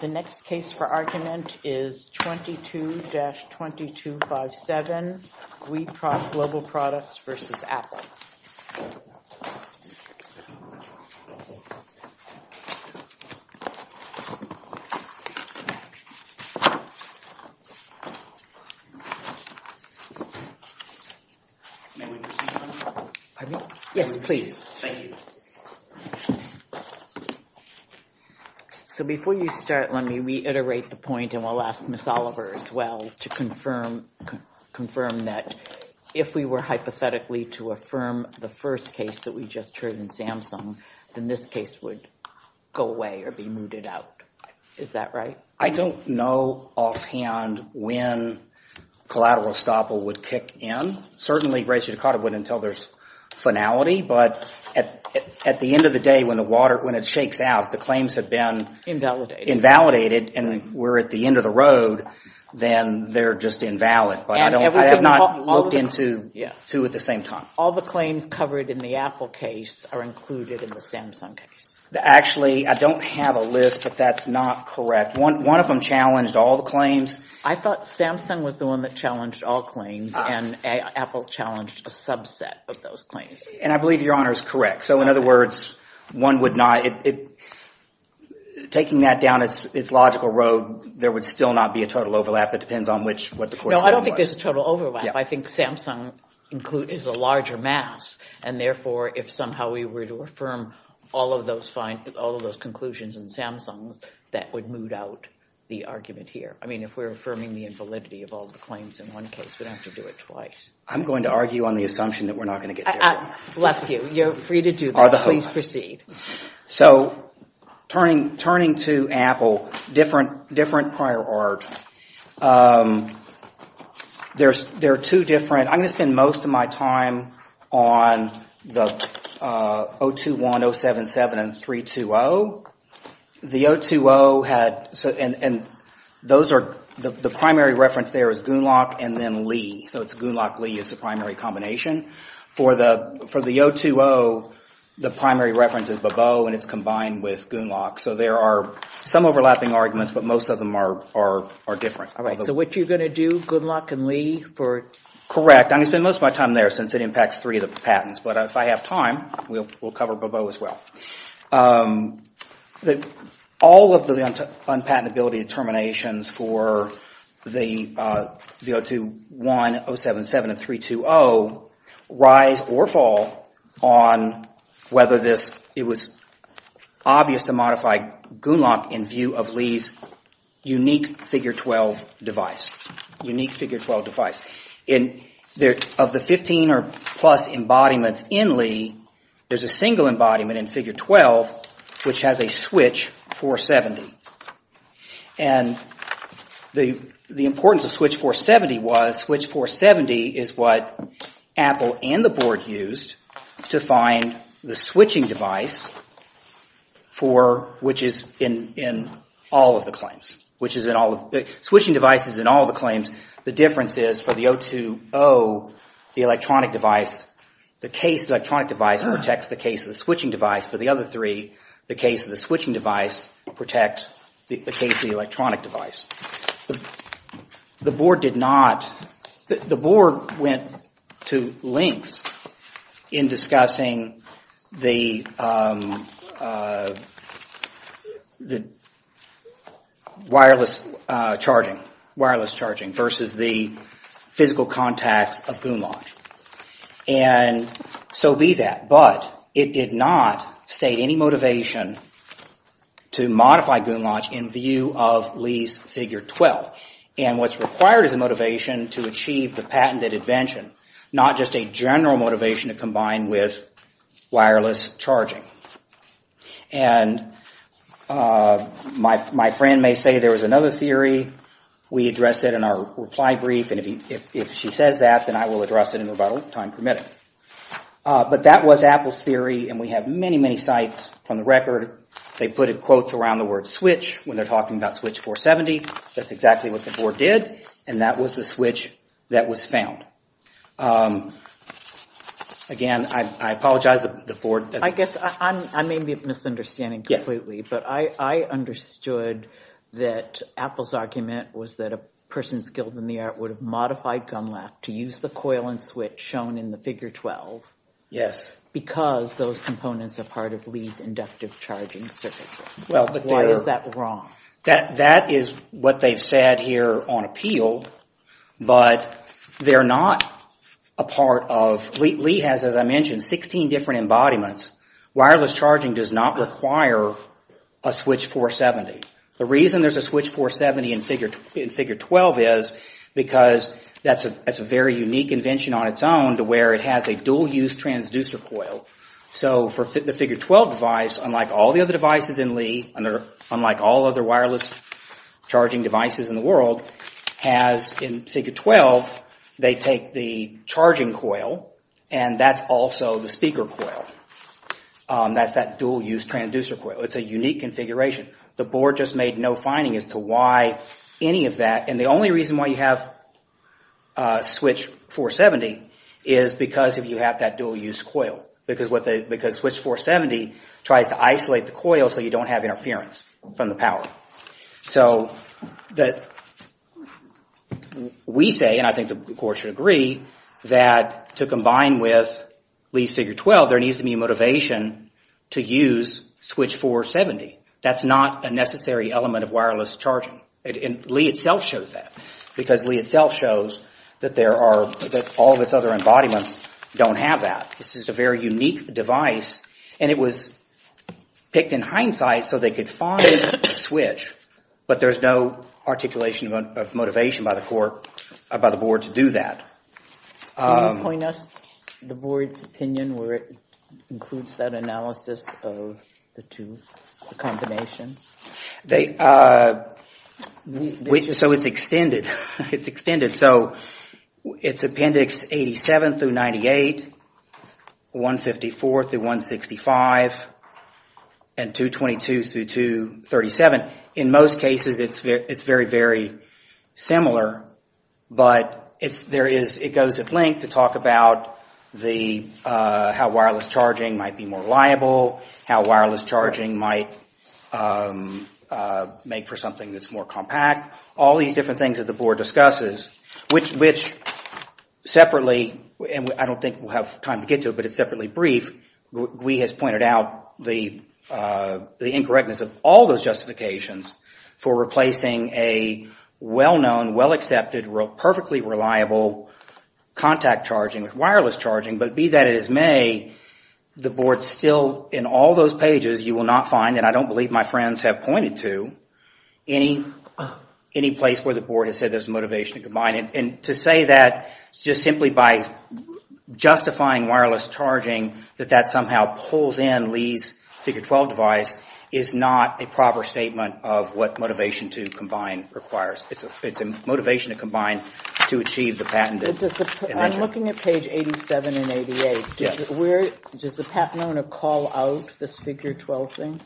The next case for argument is 22-2257, GUI Global Products v. Apple. Let me reiterate the point and I will ask Ms. Oliver as well to confirm that if we were hypothetically to affirm the first case that we just heard in Samsung, then this case would go away or be mooted out. Is that right? I don't know offhand when collateral estoppel would kick in. Certainly, Gracie Ducato wouldn't tell there's finality, but at the end of the day when it shakes out, the claims have been invalidated and we're at the end of the road, then they're just invalid. I have not looked into two at the same time. All the claims covered in the Apple case are included in the Samsung case. Actually, I don't have a list, but that's not correct. One of them challenged all the claims. I thought Samsung was the one that challenged all claims and Apple challenged a subset of those claims. And I believe Your Honor is correct. So in other words, one would not, taking that down its logical road, there would still not be a total overlap. No, I don't think there's a total overlap. I think Samsung is a larger mass, and therefore if somehow we were to affirm all of those conclusions in Samsung, that would moot out the argument here. I mean, if we're affirming the invalidity of all the claims in one case, we'd have to do it twice. I'm going to argue on the assumption that we're not going to get there. Bless you. You're free to do that. Please proceed. So turning to Apple, different prior art. There are two different, I'm going to spend most of my time on the 021, 077, and 320. The 020 had, and those are, the primary reference there is Goonlock and then Lee. So it's Goonlock-Lee is the primary combination. For the 020, the primary reference is Bebeau, and it's combined with Goonlock. So there are some overlapping arguments, but most of them are different. All right. So what you're going to do, Goonlock and Lee, for? Correct. I'm going to spend most of my time there since it impacts three of the patents. But if I have time, we'll cover Bebeau as well. All of the unpatentability determinations for the 021, 077, and 320 rise or fall on whether it was obvious to modify Goonlock in view of Lee's unique figure 12 device. Of the 15 or plus embodiments in Lee, there's a single embodiment in figure 12 which has a switch 470. And the importance of switch 470 was switch 470 is what Apple and the board used to find the switching device, which is in all of the claims. Switching device is in all of the claims. The difference is for the 020, the electronic device, the case of the electronic device protects the case of the switching device. For the other three, the case of the switching device protects the case of the electronic device. However, the board went to lengths in discussing the wireless charging versus the physical contacts of Goonlock. And so be that. But it did not state any motivation to modify Goonlock in view of Lee's figure 12. And what's required is a motivation to achieve the patented invention, not just a general motivation to combine with wireless charging. And my friend may say there was another theory. We addressed it in our reply brief. And if she says that, then I will address it in about time permitting. But that was Apple's theory. And we have many, many sites from the record. They put quotes around the word switch when they're talking about switch 470. That's exactly what the board did. And that was the switch that was found. Again, I apologize to the board. I guess I may be misunderstanding completely, but I understood that Apple's argument was that a person skilled in the art would have modified Goonlock to use the coil and switch shown in the figure 12 because those components are part of Lee's inductive charging circuit. Why is that wrong? That is what they've said here on appeal, but they're not a part of... Lee has, as I mentioned, 16 different embodiments. Wireless charging does not require a switch 470. The reason there's a switch 470 in figure 12 is because that's a very unique invention on its own to where it has a dual-use transducer coil. So for the figure 12 device, unlike all the other devices in Lee, and they're unlike all other wireless charging devices in the world, has in figure 12, they take the charging coil and that's also the speaker coil. That's that dual-use transducer coil. It's a unique configuration. The board just made no finding as to why any of that. The only reason why you have a switch 470 is because of you have that dual-use coil because switch 470 tries to isolate the coil so you don't have interference from the power. We say, and I think the board should agree, that to combine with Lee's figure 12, there needs to be motivation to use switch 470. That's not a necessary element of wireless charging. Lee itself shows that because Lee itself shows that all of its other embodiments don't have that. This is a very unique device and it was picked in hindsight so they could find a switch, but there's no articulation of motivation by the board to do that. Can you point us to the board's opinion where it includes that analysis of the two combinations? It's extended. It's appendix 87 through 98, 154 through 165, and 222 through 237. In most cases, it's very, very similar, but it goes at length to talk about how wireless charging might be more reliable, how wireless charging might make for something that's more compact, all these different things that the board discusses, which separately, and I don't think we'll have time to get to it, but it's separately brief, Gwee has pointed out the incorrectness of all those justifications for replacing a well-known, well-accepted, perfectly reliable contact charging with wireless charging. But be that as may, the board still, in all those pages, you will not find, and I don't any place where the board has said there's a motivation to combine, and to say that just simply by justifying wireless charging, that that somehow pulls in Lee's Figure 12 device, is not a proper statement of what motivation to combine requires. It's a motivation to combine to achieve the patented invention. I'm looking at page 87 and 88. Does the patent owner call out this Figure 12 thing?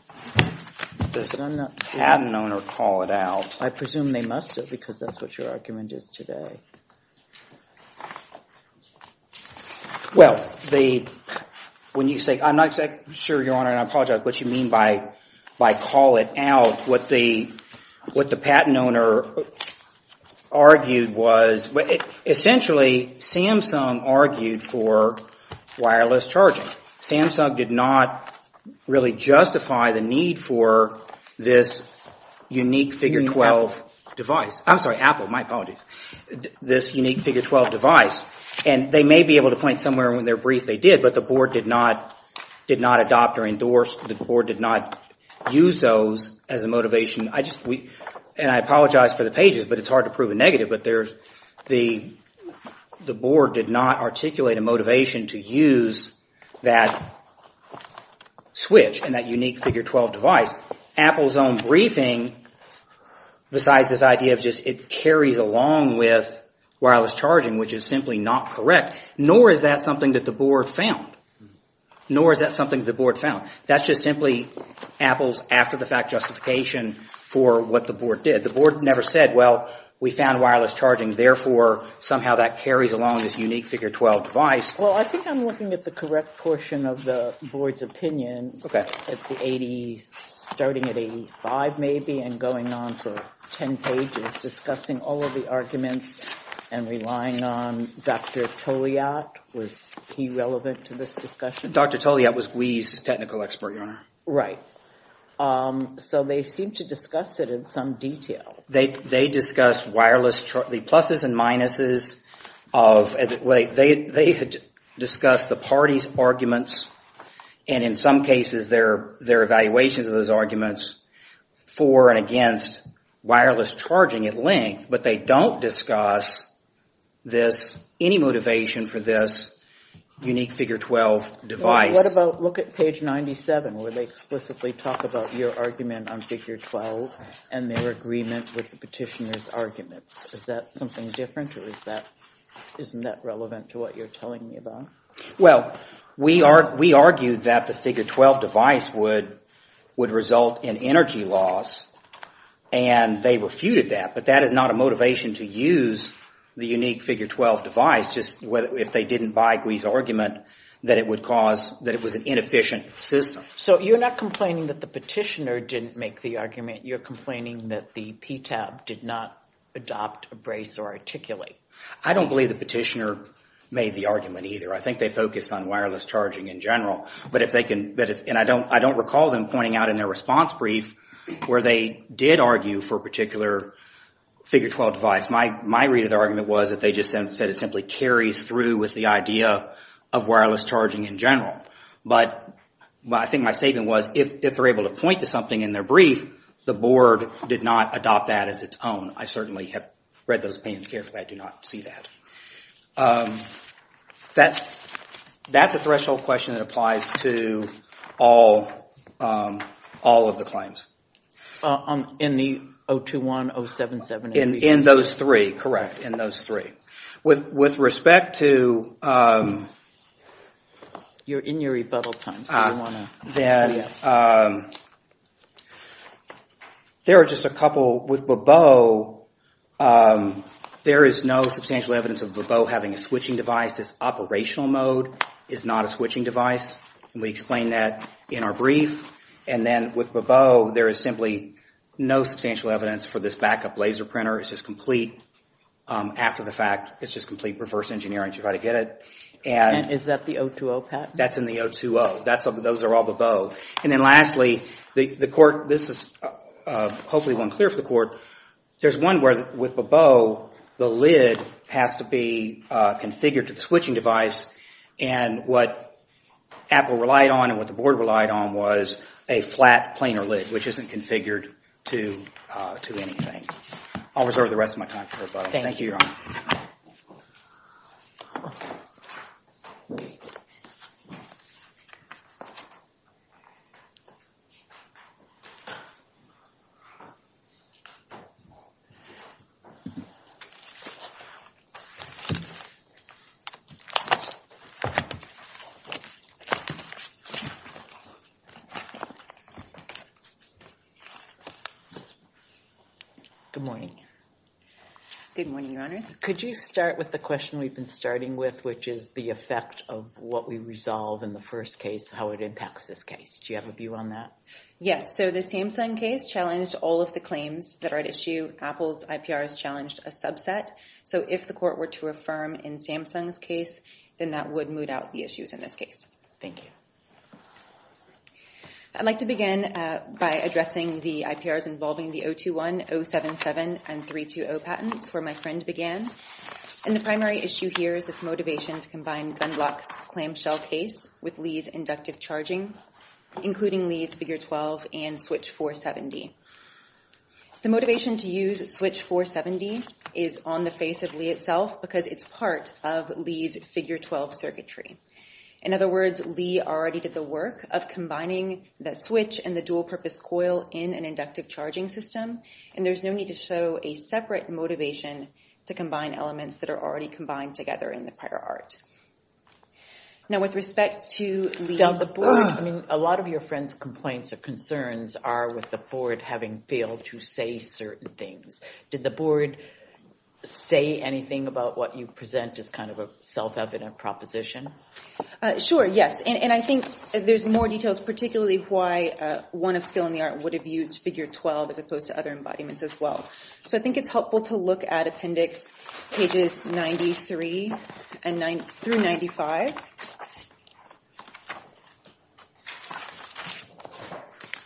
Does the patent owner call it out? I presume they must have, because that's what your argument is today. Well, when you say, I'm not exactly sure, Your Honor, and I apologize, what you mean by call it out, what the patent owner argued was, essentially, Samsung argued for wireless charging. Samsung did not really justify the need for this unique Figure 12 device. I'm sorry, Apple, my apologies. This unique Figure 12 device, and they may be able to point somewhere in their brief they did, but the board did not adopt or endorse, the board did not use those as a motivation. And I apologize for the pages, but it's hard to prove a negative, but the board did not that switch and that unique Figure 12 device. Apple's own briefing, besides this idea of just it carries along with wireless charging, which is simply not correct, nor is that something that the board found. Nor is that something the board found. That's just simply Apple's after-the-fact justification for what the board did. The board never said, well, we found wireless charging, therefore, somehow that carries along this unique Figure 12 device. Well, I think I'm looking at the correct portion of the board's opinions, starting at 85, maybe, and going on for 10 pages, discussing all of the arguments and relying on Dr. Toliat. Was he relevant to this discussion? Dr. Toliat was Wee's technical expert, Your Honor. Right. So, they seem to discuss it in some detail. They discussed the pluses and minuses of... They had discussed the parties' arguments and, in some cases, their evaluations of those arguments for and against wireless charging at length, but they don't discuss any motivation for this unique Figure 12 device. What about, look at page 97, where they explicitly talk about your argument on Figure 12 and their agreement with the petitioner's arguments. Is that something different, or isn't that relevant to what you're telling me about? Well, we argued that the Figure 12 device would result in energy loss, and they refuted that, but that is not a motivation to use the unique Figure 12 device, just if they didn't buy Gwee's argument, that it would cause... That it was an inefficient system. So, you're not complaining that the petitioner didn't make the argument. You're complaining that the PTAB did not adopt, embrace, or articulate. I don't believe the petitioner made the argument, either. I think they focused on wireless charging in general, but if they can... And I don't recall them pointing out in their response brief where they did argue for a particular Figure 12 device. My read of the argument was that they just said it simply carries through with the idea of wireless charging in general, but I think my statement was if they're able to point to something in their brief, the board did not adopt that as its own. I certainly have read those opinions carefully. I do not see that. That's a threshold question that applies to all of the claims. In the 021, 077... In those three. Correct. In those three. With respect to... You're in your rebuttal time, so you want to... There are just a couple. With Bebeau, there is no substantial evidence of Bebeau having a switching device. This operational mode is not a switching device, and we explain that in our brief. And then with Bebeau, there is simply no substantial evidence for this backup laser printer. It's just complete, after the fact, it's just complete reverse engineering to try to get Is that the 020, Pat? That's in the 020. Those are all Bebeau. And then lastly, the court, this is hopefully one clear for the court, there's one where with Bebeau, the lid has to be configured to the switching device, and what Apple relied on and what the board relied on was a flat planar lid, which isn't configured to anything. I'll reserve the rest of my time for Bebeau. Thank you. Good morning. Good morning, Your Honors. Could you start with the question we've been starting with, which is the effect of what we resolve in the first case, how it impacts this case. Do you have a view on that? Yes. So the Samsung case challenged all of the claims that are at issue. Apple's IPR has challenged a subset. So if the court were to affirm in Samsung's case, then that would moot out the issues in this case. Thank you. I'd like to begin by addressing the IPRs involving the 021, 077, and 320 patents where my friend began. And the primary issue here is this motivation to combine GunBlock's clamshell case with Lee's inductive charging, including Lee's Figure 12 and Switch 470. The motivation to use Switch 470 is on the face of Lee itself because it's part of Lee's Figure 12 circuitry. In other words, Lee already did the work of combining the Switch and the dual-purpose coil in an inductive charging system. And there's no need to show a separate motivation to combine elements that are already combined together in the prior art. Now with respect to Lee's board, I mean, a lot of your friend's complaints or concerns are with the board having failed to say certain things. Did the board say anything about what you present as kind of a self-evident proposition? Sure. Yes. And I think there's more details, particularly why one of Skill in the Art would have used Figure 12 as opposed to other embodiments as well. So I think it's helpful to look at Appendix pages 93 through 95.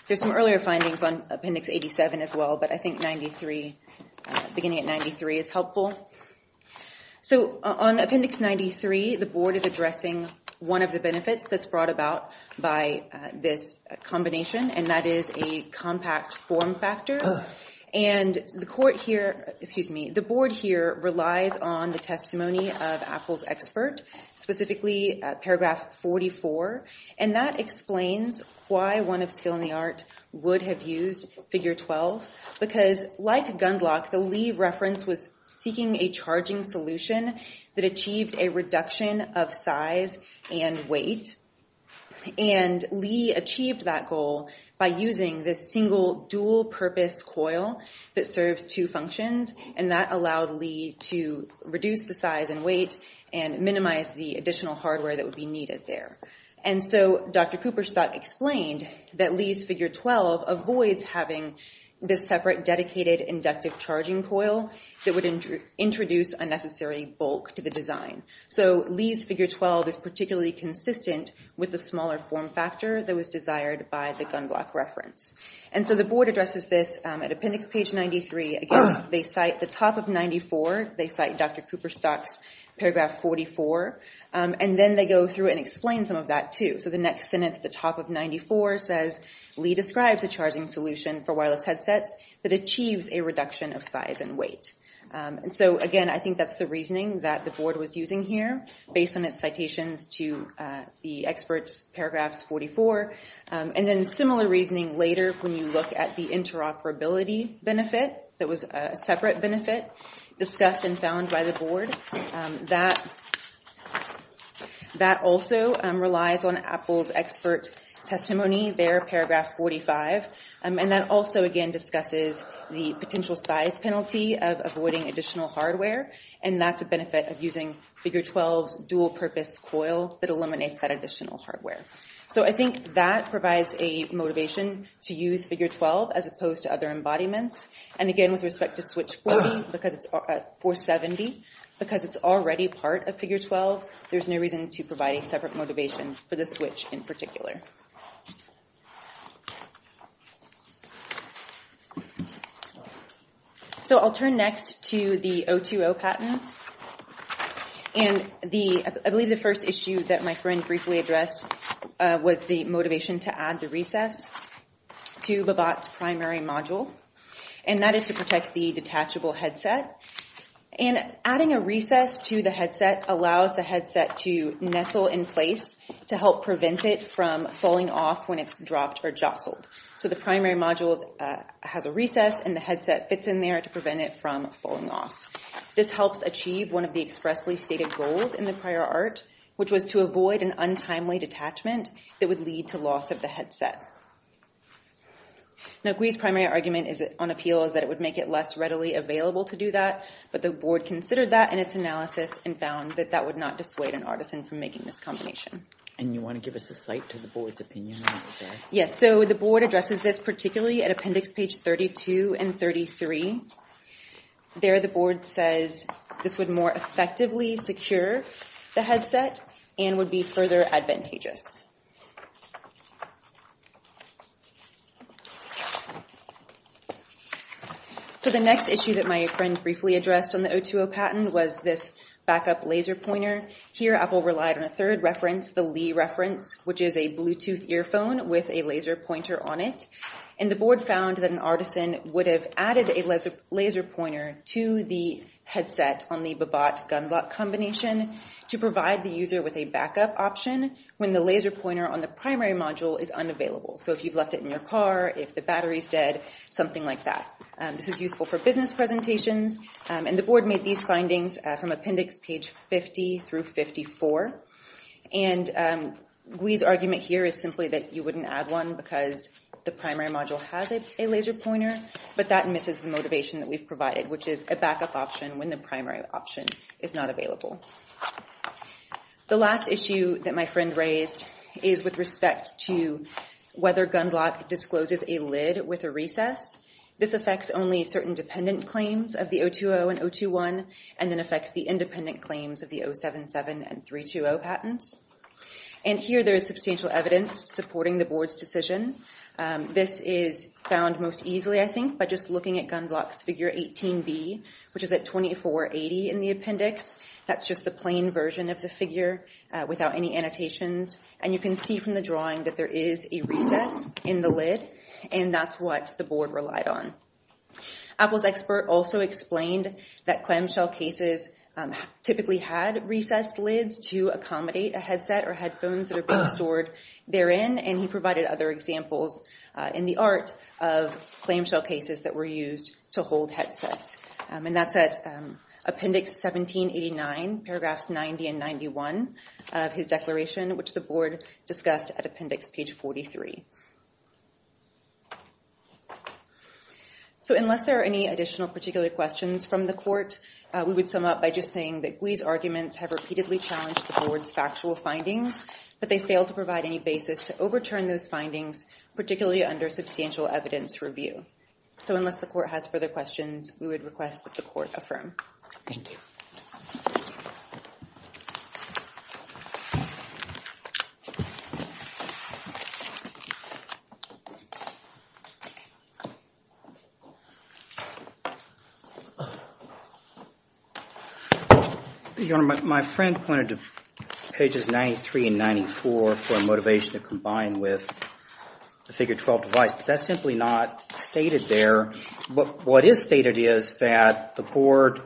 There's some earlier findings on Appendix 87 as well, but I think 93, beginning at 93, is helpful. So on Appendix 93, the board is addressing one of the benefits that's brought about by this combination, and that is a compact form factor. And the board here relies on the testimony of Apple's expert, specifically paragraph 44. And that explains why one of Skill in the Art would have used Figure 12. Because like Gundlach, the Lee reference was seeking a charging solution that achieved a reduction of size and weight. And Lee achieved that goal by using this single dual-purpose coil that serves two functions, and that allowed Lee to reduce the size and weight and minimize the additional hardware that would be needed there. And so Dr. Cooperstock explained that Lee's Figure 12 avoids having this separate dedicated inductive charging coil that would introduce unnecessary bulk to the design. So Lee's Figure 12 is particularly consistent with the smaller form factor that was desired by the Gundlach reference. And so the board addresses this at Appendix page 93. Again, they cite the top of 94. They cite Dr. Cooperstock's paragraph 44. And then they go through and explain some of that, too. So the next sentence at the top of 94 says, Lee describes a charging solution for wireless headsets that achieves a reduction of size and weight. And so again, I think that's the reasoning that the board was using here based on its citations to the experts' paragraphs 44. And then similar reasoning later when you look at the interoperability benefit that was a separate benefit discussed and found by the board. That also relies on Apple's expert testimony there, paragraph 45. And that also, again, discusses the potential size penalty of avoiding additional hardware. And that's a benefit of using Figure 12's dual-purpose coil that eliminates that additional hardware. So I think that provides a motivation to use Figure 12 as opposed to other embodiments. And again, with respect to Switch 470, because it's already part of Figure 12, there's no reason to provide a separate motivation for the Switch in particular. So I'll turn next to the 020 patent. And I believe the first issue that my friend briefly addressed was the motivation to add the recess to Babott's primary module. And that is to protect the detachable headset. And adding a recess to the headset allows the headset to nestle in place to help prevent it from falling off when it's dropped or jostled. So the primary module has a recess, and the headset fits in there to prevent it from falling off. This helps achieve one of the expressly stated goals in the prior art, which was to avoid an untimely detachment that would lead to loss of the headset. Now, Gwee's primary argument on appeal is that it would make it less readily available to do that. But the board considered that in its analysis and found that that would not dissuade an artisan from making this combination. And you want to give us a cite to the board's opinion on that? Yes. So the board addresses this particularly at appendix page 32 and 33. There, the board says this would more effectively secure the headset and would be further advantageous. So the next issue that my friend briefly addressed on the O2O patent was this backup laser pointer. Here Apple relied on a third reference, the Li reference, which is a Bluetooth earphone with a laser pointer on it. And the board found that an artisan would have added a laser pointer to the headset on the Babat-Gunblot combination to provide the user with a backup option when the laser pointer on the primary module is unavailable. So if you've left it in your car, if the battery's dead, something like that. This is useful for business presentations. And the board made these findings from appendix page 50 through 54. And Gwee's argument here is simply that you wouldn't add one because the primary module has a laser pointer. But that misses the motivation that we've provided, which is a backup option when the primary option is not available. The last issue that my friend raised is with respect to whether Gunblot discloses a lid with a recess. This affects only certain dependent claims of the O2O and O2O, and then affects the independent claims of the 077 and 320 patents. And here there is substantial evidence supporting the board's decision. This is found most easily, I think, by just looking at Gunblot's figure 18B, which is at 2480 in the appendix. That's just the plain version of the figure without any annotations. And you can see from the drawing that there is a recess in the lid. And that's what the board relied on. Apple's expert also explained that clamshell cases typically had recessed lids to accommodate a headset or headphones that are being stored therein. And he provided other examples in the art of clamshell cases that were used to hold headsets. And that's at appendix 1789, paragraphs 90 and 91 of his declaration, which the board discussed at appendix page 43. So unless there are any additional particular questions from the court, we would sum up by just saying that Gwee's arguments have repeatedly challenged the board's factual findings, but they failed to provide any basis to overturn those findings, particularly under substantial evidence review. So unless the court has further questions, we would request that the court affirm. Thank you. Your Honor, my friend pointed to pages 93 and 94 for motivation to combine with the figure 12 device. But that's simply not stated there. What is stated is that the board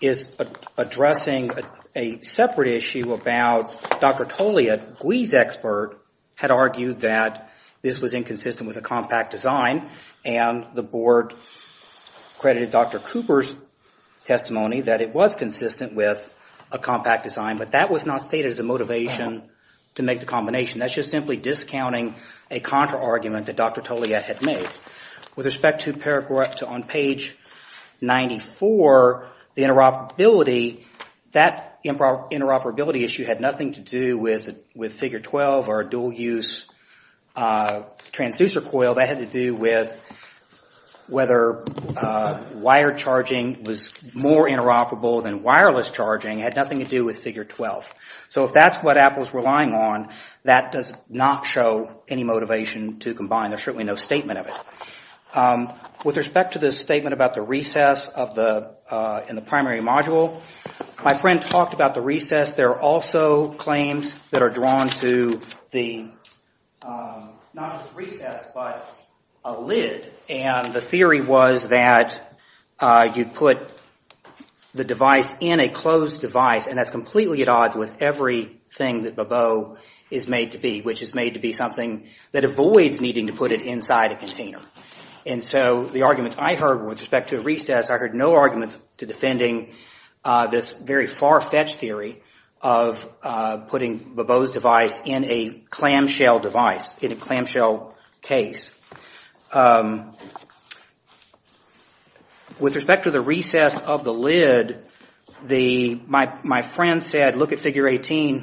is addressing a separate issue about Dr. Toley, a Gwee's expert, had argued that this was inconsistent with a compact design. And the board credited Dr. Cooper's testimony that it was consistent with a compact design. But that was not stated as a motivation to make the combination. That's just simply discounting a contra-argument that Dr. Toley had made. With respect to paragraphs on page 94, the interoperability, that interoperability issue had nothing to do with figure 12 or a dual-use transducer coil. That had to do with whether wire charging was more interoperable than wireless charging. It had nothing to do with figure 12. So if that's what Apple is relying on, that does not show any motivation to combine. There's certainly no statement of it. With respect to this statement about the recess in the primary module, my friend talked about the recess. There are also claims that are drawn to the, not a recess, but a lid. And the theory was that you put the device in a closed device, and that's completely at odds with everything that Bobo is made to be, which is made to be something that avoids needing to put it inside a container. And so the arguments I heard with respect to recess, I heard no arguments to defending this very far-fetched theory of putting Bobo's device in a clamshell device, in a clamshell case. With respect to the recess of the lid, my friend said, look at figure 18.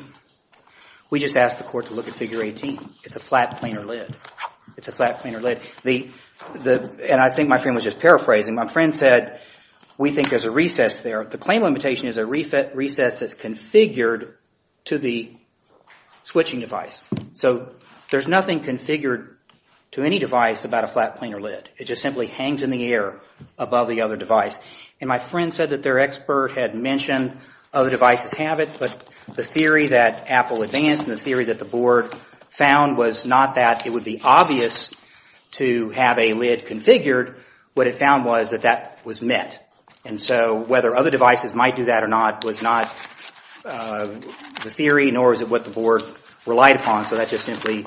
We just asked the court to look at figure 18. It's a flat, planar lid. It's a flat, planar lid. And I think my friend was just paraphrasing. My friend said, we think there's a recess there. The claim limitation is a recess that's configured to the switching device. So there's nothing configured to any device about a flat, planar lid. It just simply hangs in the air above the other device. And my friend said that their expert had mentioned other devices have it, but the theory that Apple advanced and the theory that the board found was not that it would be obvious to have a lid configured, what it found was that that was met. And so whether other devices might do that or not was not the theory, nor is it what the board relied upon. So that just simply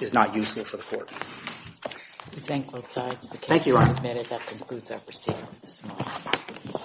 is not useful for the court. I thank both sides. Thank you, Ron. I can't wait a minute. That concludes our proceedings. Thank you.